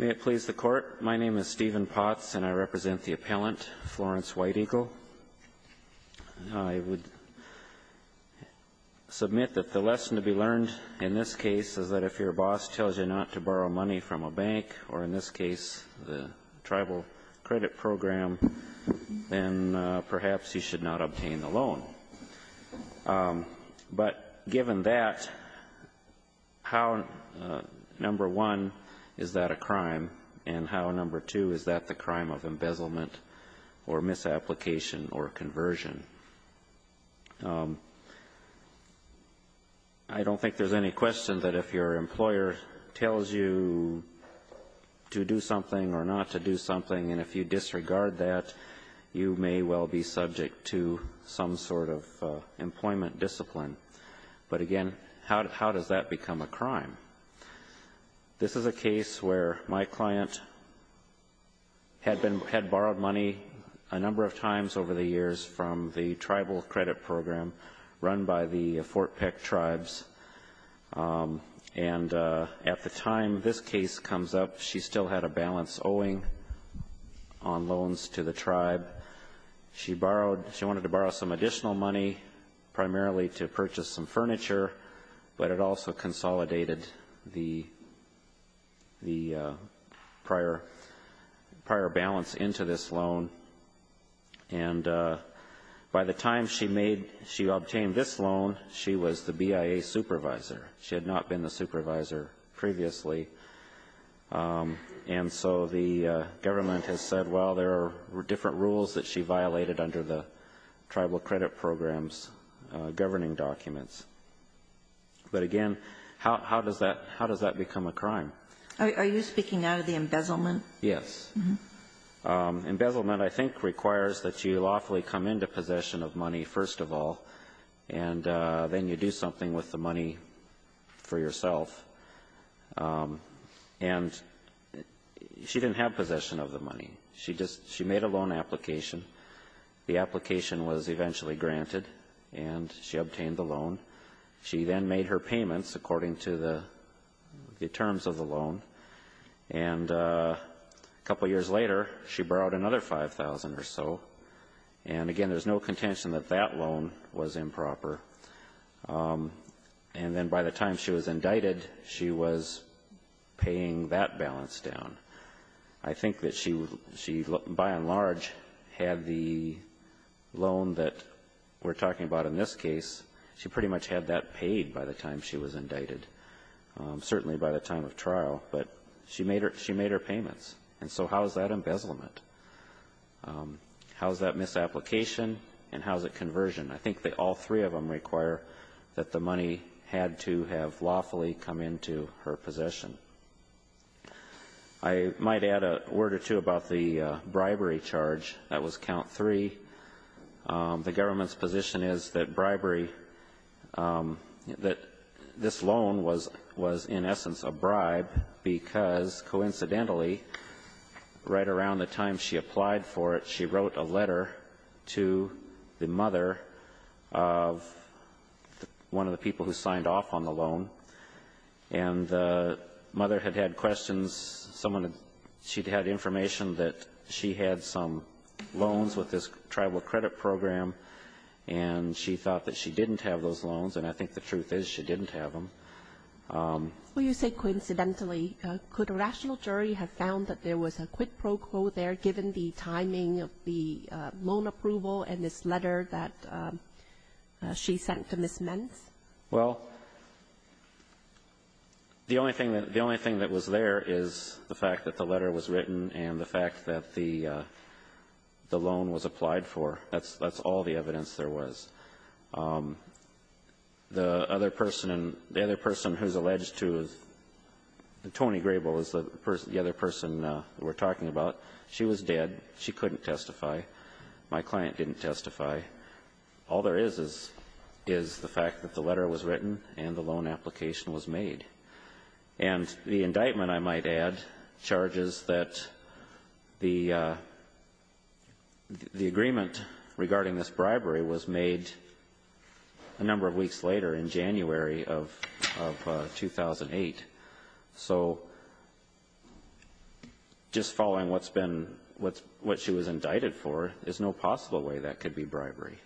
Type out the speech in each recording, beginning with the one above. May it please the court, my name is Stephen Potts and I represent the appellant, Florence White Eagle. I would submit that the lesson to be learned in this case is that if your boss tells you not to borrow money from a bank or in this case the tribal credit program, then perhaps you should not obtain the loan. But given that, how, number one, is that a crime? And how, number two, is that the crime of embezzlement or misapplication or conversion? I don't think there's any question that if your employer tells you to do something or not to do something and if you disregard that, you may well be subject to some sort of employment discipline. But again, how does that become a crime? This is a case where my client had borrowed money a number of times over the years from the tribal credit program run by the Fort Peck tribes. And at the time this case comes up, she still had a on loans to the tribe. She borrowed, she wanted to borrow some additional money, primarily to purchase some furniture, but it also consolidated the prior balance into this loan. And by the time she made, she obtained this loan, she was the BIA supervisor. She had not been the supervisor previously. And so the government has said, well, there are different rules that she violated under the tribal credit program's governing documents. But again, how does that become a crime? Are you speaking now to the embezzlement? Yes. Embezzlement, I think, requires that you lawfully come into possession of money first of all, and then you do something with the money for yourself. And she didn't have possession of the money. She just, she made a loan application. The application was eventually granted, and she obtained the loan. She then made her payments according to the terms of the loan. And a couple years later, she borrowed another $5,000 or so. And again, there's no contention that that loan was improper. And then by the time she was indicted, she was paying that balance down. I think that she, by and large, had the loan that we're talking about in this case, she pretty much had that paid by the time she was indicted, certainly by the time of trial. But she made her payments. And so how is that embezzlement? How is that misapplication? And how is it conversion? I think that all three of them require that the money had to have lawfully come into her possession. I might add a word or two about the bribery charge. That was count three. The government's position is that bribery, that this loan was in essence a bribe because, coincidentally, right around the time she applied for it, she wrote a letter to the mother of one of the people who signed off on the loan. And the mother had had questions. Someone had ‑‑ she'd had information that she had some loans with this tribal credit program, and she thought that she didn't have those loans. And I think the truth is, she didn't have them. Well, you say coincidentally. Could a rational jury have found that there was a quid pro quo there, given the timing of the loan approval and this letter that she sent to Ms. Menz? Well, the only thing that ‑‑ the only thing that was there is the fact that the letter was written and the fact that the loan was applied for. That's all the evidence there was. The other person who's alleged to ‑‑ Toni Grable is the other person that we're talking about. She was dead. She couldn't testify. My client didn't testify. All there is, is the fact that the letter was written and the loan application was made. And the indictment, I might add, charges that the agreement regarding this bribery was made a number of weeks later, in January of 2008. So just following what's been ‑‑ what she was indicted for is no possible way that could be bribery.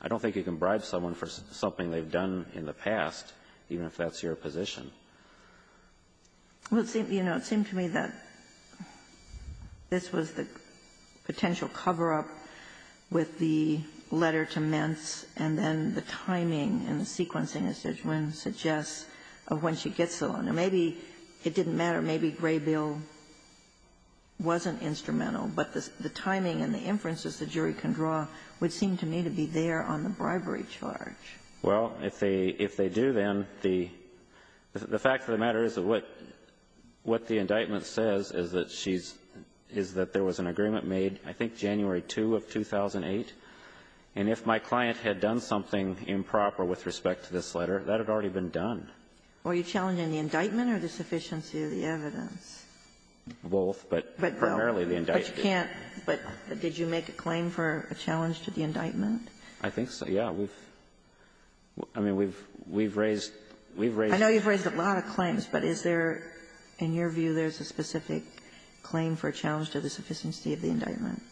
I don't think you can bribe someone for something they've done in the past, even if that's your position. Well, you know, it seemed to me that this was the potential cover-up with the letter to Menz and then the timing and the sequencing, as Judge Wynn suggests, of when she gets the loan. Now, maybe it didn't matter. Maybe Graybill wasn't instrumental. But the timing and the inferences the jury can draw would seem to me to be there on the bribery charge. Well, if they do, then, the fact of the matter is that what the indictment says is that she's ‑‑ is that there was an agreement made, I think, January 2 of 2008. And if my client had done something improper with respect to this letter, that had already been done. Were you challenging the indictment or the sufficiency of the evidence? Both, but primarily the indictment. But you can't ‑‑ but did you make a claim for a challenge to the indictment? I think so, yeah. We've ‑‑ I mean, we've raised ‑‑ we've raised ‑‑ I know you've raised a lot of claims, but is there, in your view, there's a specific claim for a challenge to the sufficiency of the indictment?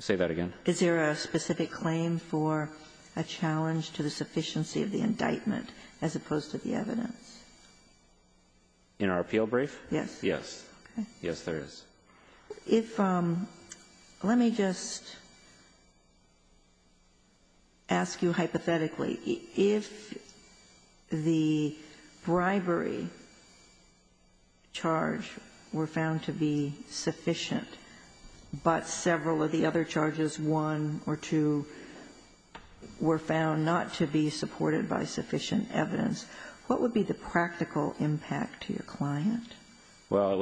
Say that again? Is there a specific claim for a challenge to the sufficiency of the indictment as opposed to the evidence? In our appeal brief? Yes. Okay. Yes, there is. If ‑‑ let me just ask you hypothetically. If the bribery charge were found to be sufficient but several of the other charges, one or two, were found not to be supported by sufficient evidence, what would be the practical impact to your client? Well, it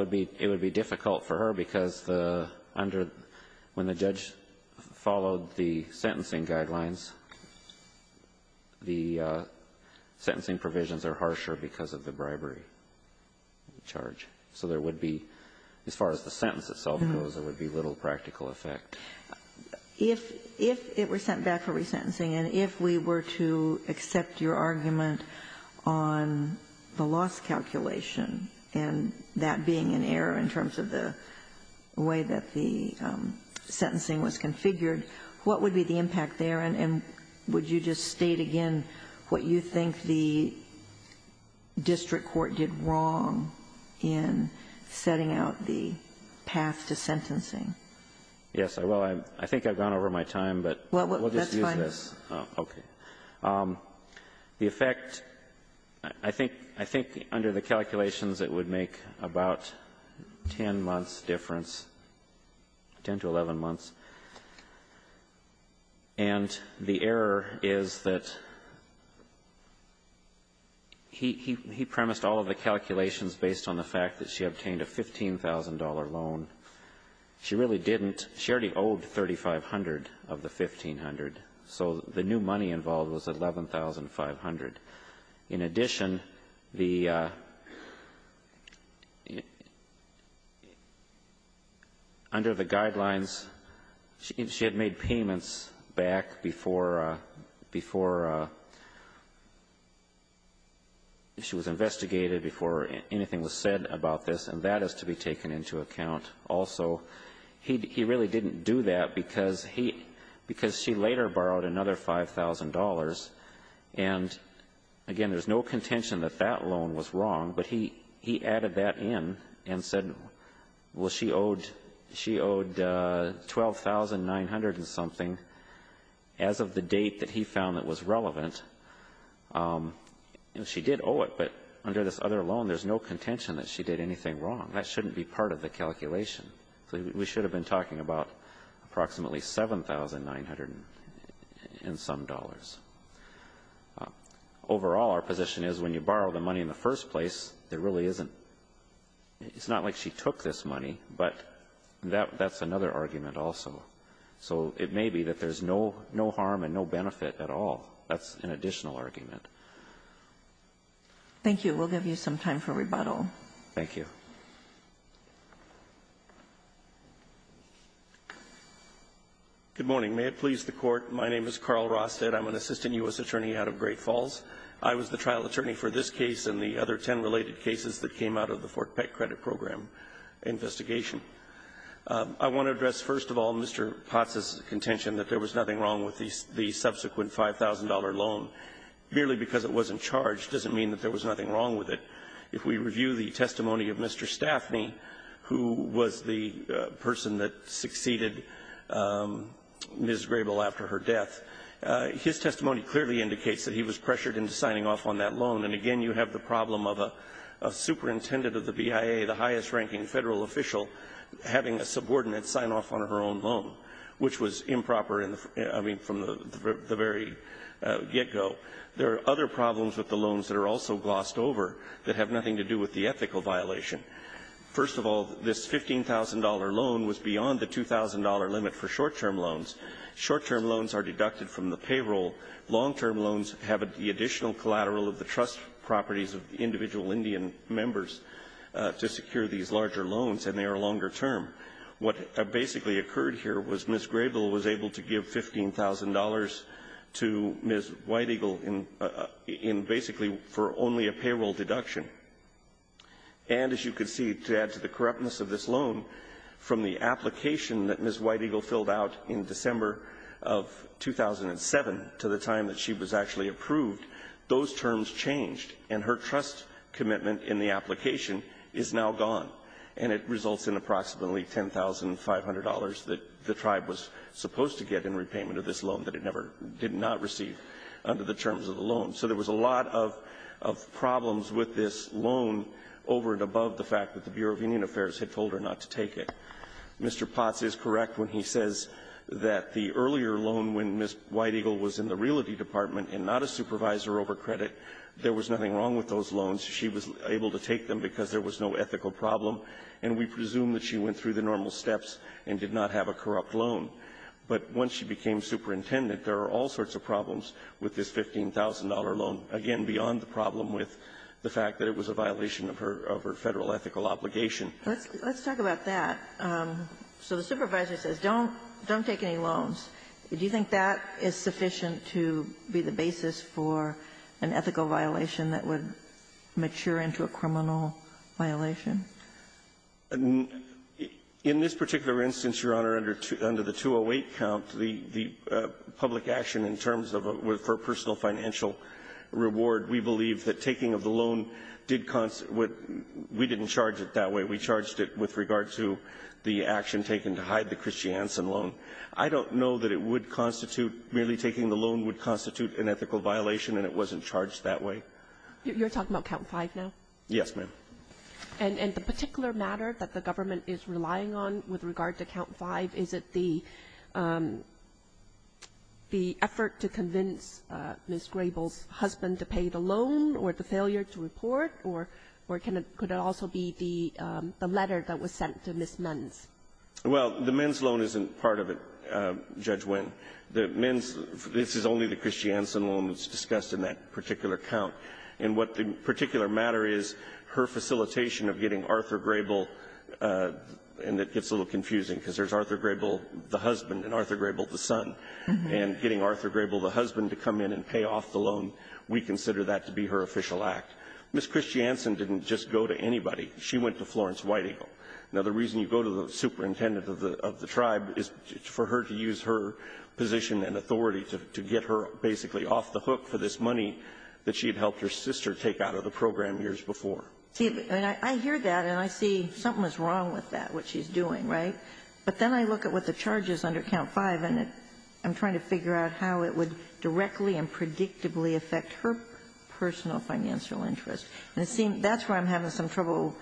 would be difficult for her because the under ‑‑ when the judge followed the sentencing guidelines, the sentencing provisions are harsher because of the bribery charge. So there would be, as far as the sentence itself goes, there would be little practical effect. If it were sent back for resentencing and if we were to accept your argument on the loss calculation and that being an error in terms of the way that the sentencing was configured, what would be the impact there? And would you just state again what you think the district court did wrong in setting out the path to sentencing? Yes. Well, I think I've gone over my time, but we'll just use this. Well, that's fine. Okay. The effect ‑‑ I think under the calculations it would make about 10 months' difference, 10 to 11 months. And the error is that he premised all of the calculations based on the fact that she obtained a $15,000 loan. She really didn't. She already owed 3,500 of the 1,500. So the new money involved was 11,500. In addition, the ‑‑ under the guidelines, she had made payments back before ‑‑ before she was investigated, before anything was said about this, and that has to be taken into account also. He really didn't do that because she later borrowed another $5,000. And, again, there's no contention that that loan was wrong, but he added that in and said, well, she owed 12,900 and something as of the date that he found that was relevant. And she did owe it, but under this other loan there's no contention that she did anything wrong. That shouldn't be part of the calculation. We should have been talking about approximately 7,900 and some dollars. Overall, our position is when you borrow the money in the first place, there really isn't ‑‑ it's not like she took this money, but that's another argument also. So it may be that there's no harm and no benefit at all. That's an additional argument. Thank you. We'll give you some time for rebuttal. Thank you. Good morning. May it please the Court. My name is Carl Rosted. I'm an assistant U.S. attorney out of Great Falls. I was the trial attorney for this case and the other ten related cases that came out of the Fort Peck credit program investigation. I want to address, first of all, Mr. Potts's contention that there was nothing wrong with the subsequent $5,000 loan. Merely because it wasn't charged doesn't mean that there was nothing wrong with it. If we review the testimony of Mr. Staffney, who was the person that succeeded Ms. Grable after her death, his testimony clearly indicates that he was pressured into signing off on that loan. And, again, you have the problem of a superintendent of the BIA, the highest ranking Federal official, having a subordinate sign off on her own loan, which was improper, I mean, from the very get‑go. There are other problems with the loans that are also glossed over that have nothing to do with the ethical violation. First of all, this $15,000 loan was beyond the $2,000 limit for short‑term loans. Short‑term loans are deducted from the payroll. Long‑term loans have the additional collateral of the trust properties of individual Indian members to secure these larger loans, and they are longer term. What basically occurred here was Ms. Grable was able to give $15,000 to Ms. White Eagle in basically for only a payroll deduction. And as you can see, to add to the corruptness of this loan, from the application that Ms. White Eagle filled out in December of 2007 to the time that she was actually approved, those terms changed, and her trust commitment in the application is now gone. And it results in approximately $10,500 that the tribe was supposed to get in repayment of this loan that it never did not receive under the terms of the loan. So there was a lot of problems with this loan over and above the fact that the Bureau of Indian Affairs had told her not to take it. Mr. Potts is correct when he says that the earlier loan, when Ms. White Eagle was in the Realty Department and not a supervisor over credit, there was nothing wrong with those loans. She was able to take them because there was no ethical problem, and we presume that she went through the normal steps and did not have a corrupt loan. But once she became superintendent, there are all sorts of problems with this $15,000 loan, again, beyond the problem with the fact that it was a violation of her Federal ethical obligation. Let's talk about that. So the supervisor says, don't take any loans. Do you think that is sufficient to be the basis for an ethical violation that would mature into a criminal violation? In this particular instance, Your Honor, under the 208 count, the public action in terms of a personal financial reward, we believe that taking of the loan did constitute what we didn't charge it that way. We charged it with regard to the action taken to hide the Christiansen loan. I don't know that it would constitute, merely taking the loan would constitute an ethical violation, and it wasn't charged that way. You're talking about count 5 now? Yes, ma'am. And the particular matter that the government is relying on with regard to count 5, is it the effort to convince Ms. Grable's husband to pay the loan or the failure to report, or could it also be the letter that was sent to Ms. Menz? Well, the Menz loan isn't part of it, Judge Winn. The Menz, this is only the Christiansen loan that's discussed in that particular count. And what the particular matter is, her facilitation of getting Arthur Grable, and it gets a little confusing because there's Arthur Grable, the husband, and Arthur Grable, the son. And getting Arthur Grable, the husband, to come in and pay off the loan, we consider that to be her official act. Ms. Christiansen didn't just go to anybody. She went to Florence White Eagle. Now, the reason you go to the superintendent of the tribe is for her to use her position and authority to get her basically off the hook for this money that she had helped her sister take out of the program years before. See, I hear that, and I see something is wrong with that, what she's doing, right? But then I look at what the charge is under count 5, and I'm trying to figure out how it would directly and predictably affect her personal financial interests. And it seems that's where I'm having some trouble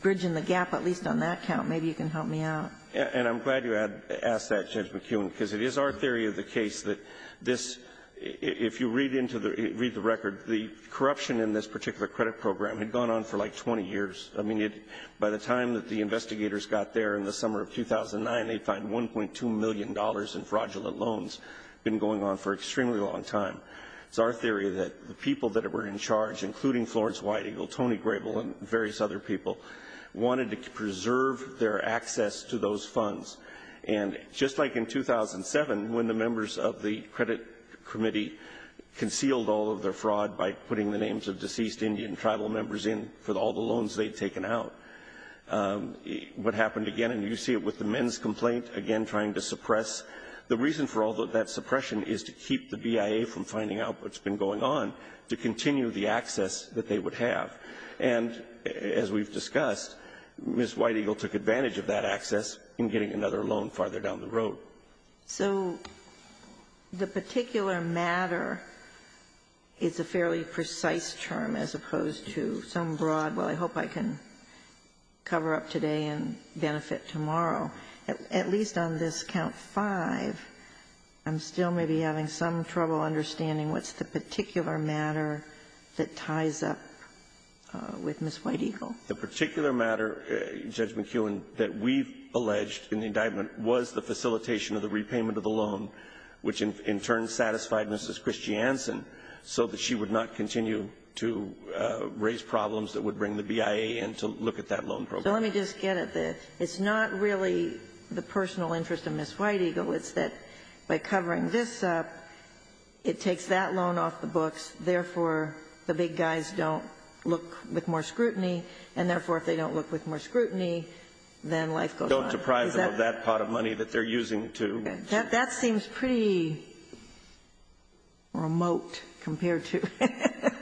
bridging the gap, at least on that count. Maybe you can help me out. And I'm glad you asked that, Judge McKeown, because it is our theory of the case that this, if you read the record, the corruption in this particular credit program had gone on for like 20 years. I mean, by the time that the investigators got there in the summer of 2009, they'd find $1.2 million in fraudulent loans had been going on for an extremely long time. It's our theory that the people that were in charge, including Florence White Eagle, Tony Grable, and various other people, wanted to preserve their access to those funds. And just like in 2007, when the members of the credit committee concealed all of their fraud by putting the names of deceased Indian tribal members in for all the loans they'd taken out, what happened again, and you see it with the men's complaint, again trying to suppress. The reason for all that suppression is to keep the BIA from finding out what's been going on to continue the access that they would have. And as we've discussed, Ms. White Eagle took advantage of that access in getting another loan farther down the road. So the particular matter is a fairly precise term as opposed to some broad, well, I hope I can cover up today and benefit tomorrow. At least on this count five, I'm still maybe having some trouble understanding what's the particular matter that ties up with Ms. White Eagle. The particular matter, Judge McKeown, that we've alleged in the indictment was the facilitation of the repayment of the loan, which in turn satisfied Mrs. Christiansen so that she would not continue to raise problems that would bring the BIA in to look at that loan program. So let me just get at this. It's not really the personal interest of Ms. White Eagle. It's that by covering this up, it takes that loan off the books, therefore, the big guys don't look with more scrutiny, and therefore, if they don't look with more scrutiny, then life goes on. Don't surprise them with that pot of money that they're using, too. That seems pretty remote compared to it.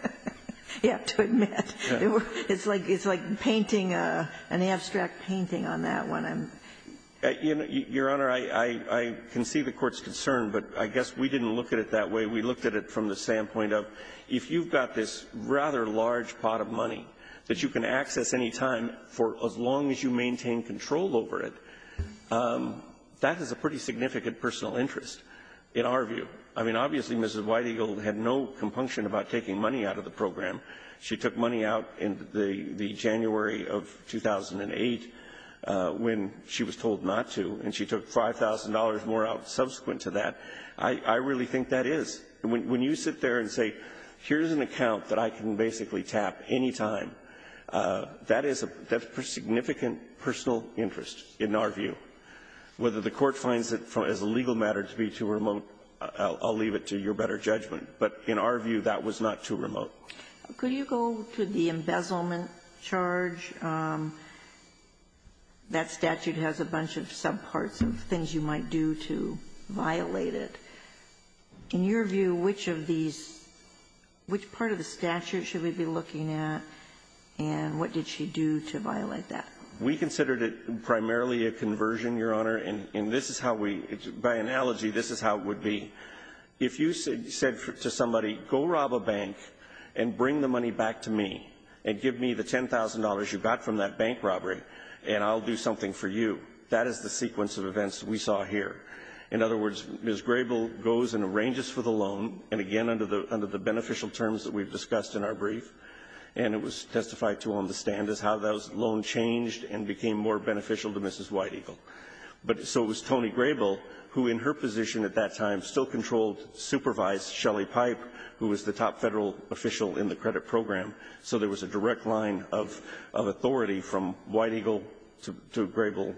You have to admit. It's like painting an abstract painting on that one. Your Honor, I can see the Court's concern, but I guess we didn't look at it that way. We looked at it from the standpoint of if you've got this rather large pot of money that you can access any time for as long as you maintain control over it, that is a pretty significant personal interest in our view. I mean, obviously, Mrs. White Eagle had no compunction about taking money out of the program. She took money out in the January of 2008 when she was told not to, and she took $5,000 more out subsequent to that. I really think that is. When you sit there and say, here's an account that I can basically tap any time, that is a significant personal interest in our view. Whether the Court finds it as a legal matter to be too remote, I'll leave it to your better judgment. But in our view, that was not too remote. Could you go to the embezzlement charge? That statute has a bunch of subparts of things you might do to violate it. In your view, which of these – which part of the statute should we be looking at, and what did she do to violate that? We considered it primarily a conversion, Your Honor. And this is how we – by analogy, this is how it would be. If you said to somebody, go rob a bank and bring the money back to me and give me the $10,000 you got from that bank robbery, and I'll do something for you, that is the sequence of events we saw here. In other words, Ms. Grable goes and arranges for the loan, and again, under the beneficial terms that we've discussed in our brief. And it was testified to on the stand as how that loan changed and became more beneficial to Mrs. White Eagle. But so it was Tony Grable, who in her position at that time still controlled, supervised Shelley Pipe, who was the top Federal official in the credit program. So there was a direct line of authority from White Eagle to Grable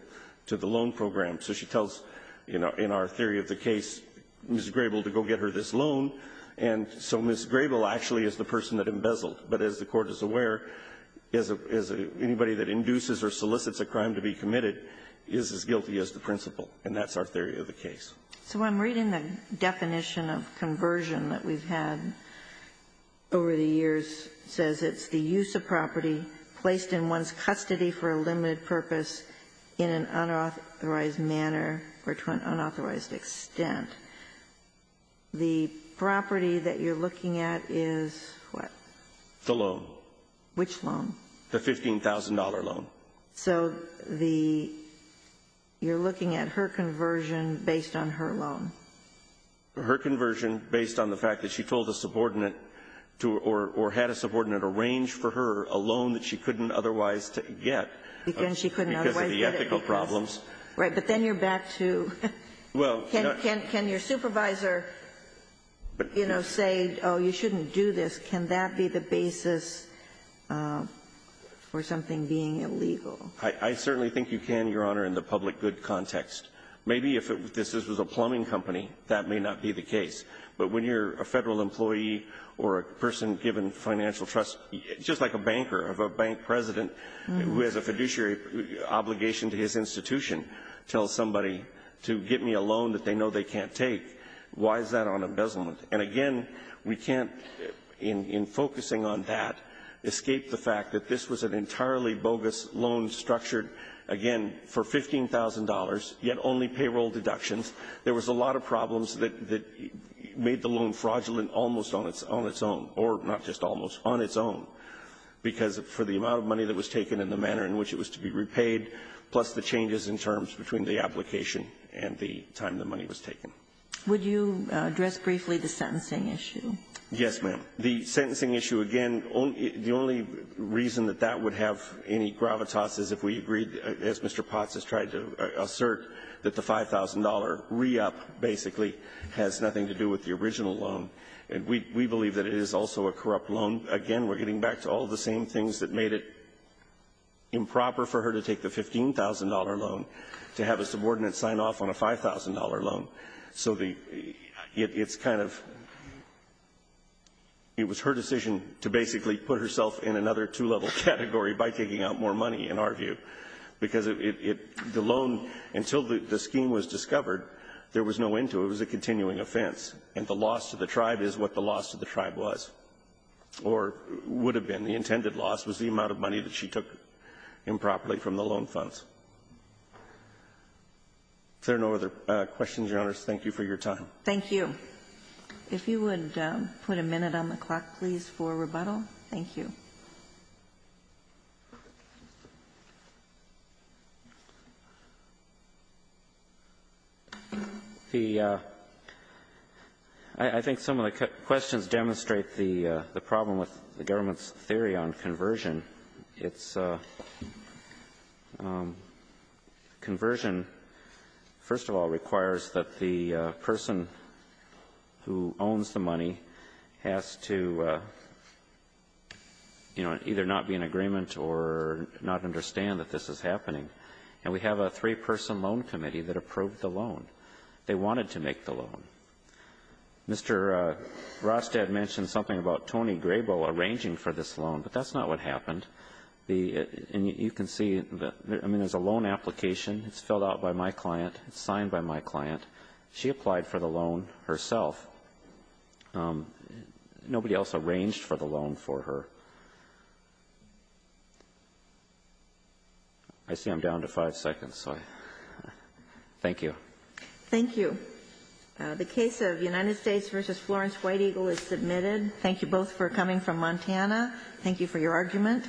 to the loan program. So she tells, you know, in our theory of the case, Ms. Grable to go get her this loan, and so Ms. Grable actually is the person that embezzled. But as the Court is aware, anybody that induces or solicits a crime to be committed is as guilty as the principal, and that's our theory of the case. So I'm reading the definition of conversion that we've had over the years. It says it's the use of property placed in one's custody for a limited purpose in an unauthorized manner or to an unauthorized extent. The property that you're looking at is what? The loan. Which loan? The $15,000 loan. So the you're looking at her conversion based on her loan. Her conversion based on the fact that she told a subordinate to or had a subordinate arrange for her a loan that she couldn't otherwise get. Because she couldn't otherwise get it. Because of the ethical problems. Right. But then you're back to can your supervisor, you know, say, oh, you shouldn't do this, can that be the basis for something being illegal? I certainly think you can, Your Honor, in the public good context. Maybe if this was a plumbing company, that may not be the case. But when you're a Federal employee or a person given financial trust, just like a banker of a bank president who has a fiduciary obligation to his institution, tells somebody to get me a loan that they know they can't take, why is that on embezzlement? And, again, we can't, in focusing on that, escape the fact that this was an entirely bogus loan structured, again, for $15,000, yet only payroll deductions. There was a lot of problems that made the loan fraudulent almost on its own, or not just almost, on its own, because for the amount of money that was taken and the manner in which it was to be repaid, plus the changes in terms between the application and the time the money was taken. Would you address briefly the sentencing issue? Yes, ma'am. The sentencing issue, again, the only reason that that would have any gravitas is if we agreed, as Mr. Potts has tried to assert, that the $5,000 re-up, basically, has nothing to do with the original loan. And we believe that it is also a corrupt loan. Again, we're getting back to all the same things that made it improper for her to take a $15,000 loan, to have a subordinate sign off on a $5,000 loan. So it's kind of, it was her decision to basically put herself in another two-level category by taking out more money, in our view, because the loan, until the scheme was discovered, there was no end to it. It was a continuing offense. And the loss to the tribe is what the loss to the tribe was, or would have been. And the intended loss was the amount of money that she took improperly from the loan funds. If there are no other questions, Your Honors, thank you for your time. Thank you. If you would put a minute on the clock, please, for rebuttal. Thank you. The — I think some of the questions demonstrate the problem with the government's theory on conversion. It's — conversion, first of all, requires that the person who owns the money has to, you know, either not be in agreement or not understand that this is happening. And we have a three-person loan committee that approved the loan. They wanted to make the loan. Mr. Rostad mentioned something about Tony Grabo arranging for this loan, but that's not what happened. The — and you can see — I mean, there's a loan application. It's filled out by my client. It's signed by my client. She applied for the loan herself. Nobody else arranged for the loan for her. I see I'm down to five seconds, so I — thank you. Thank you. The case of United States v. Florence White Eagle is submitted. Thank you both for coming from Montana. Thank you for your argument.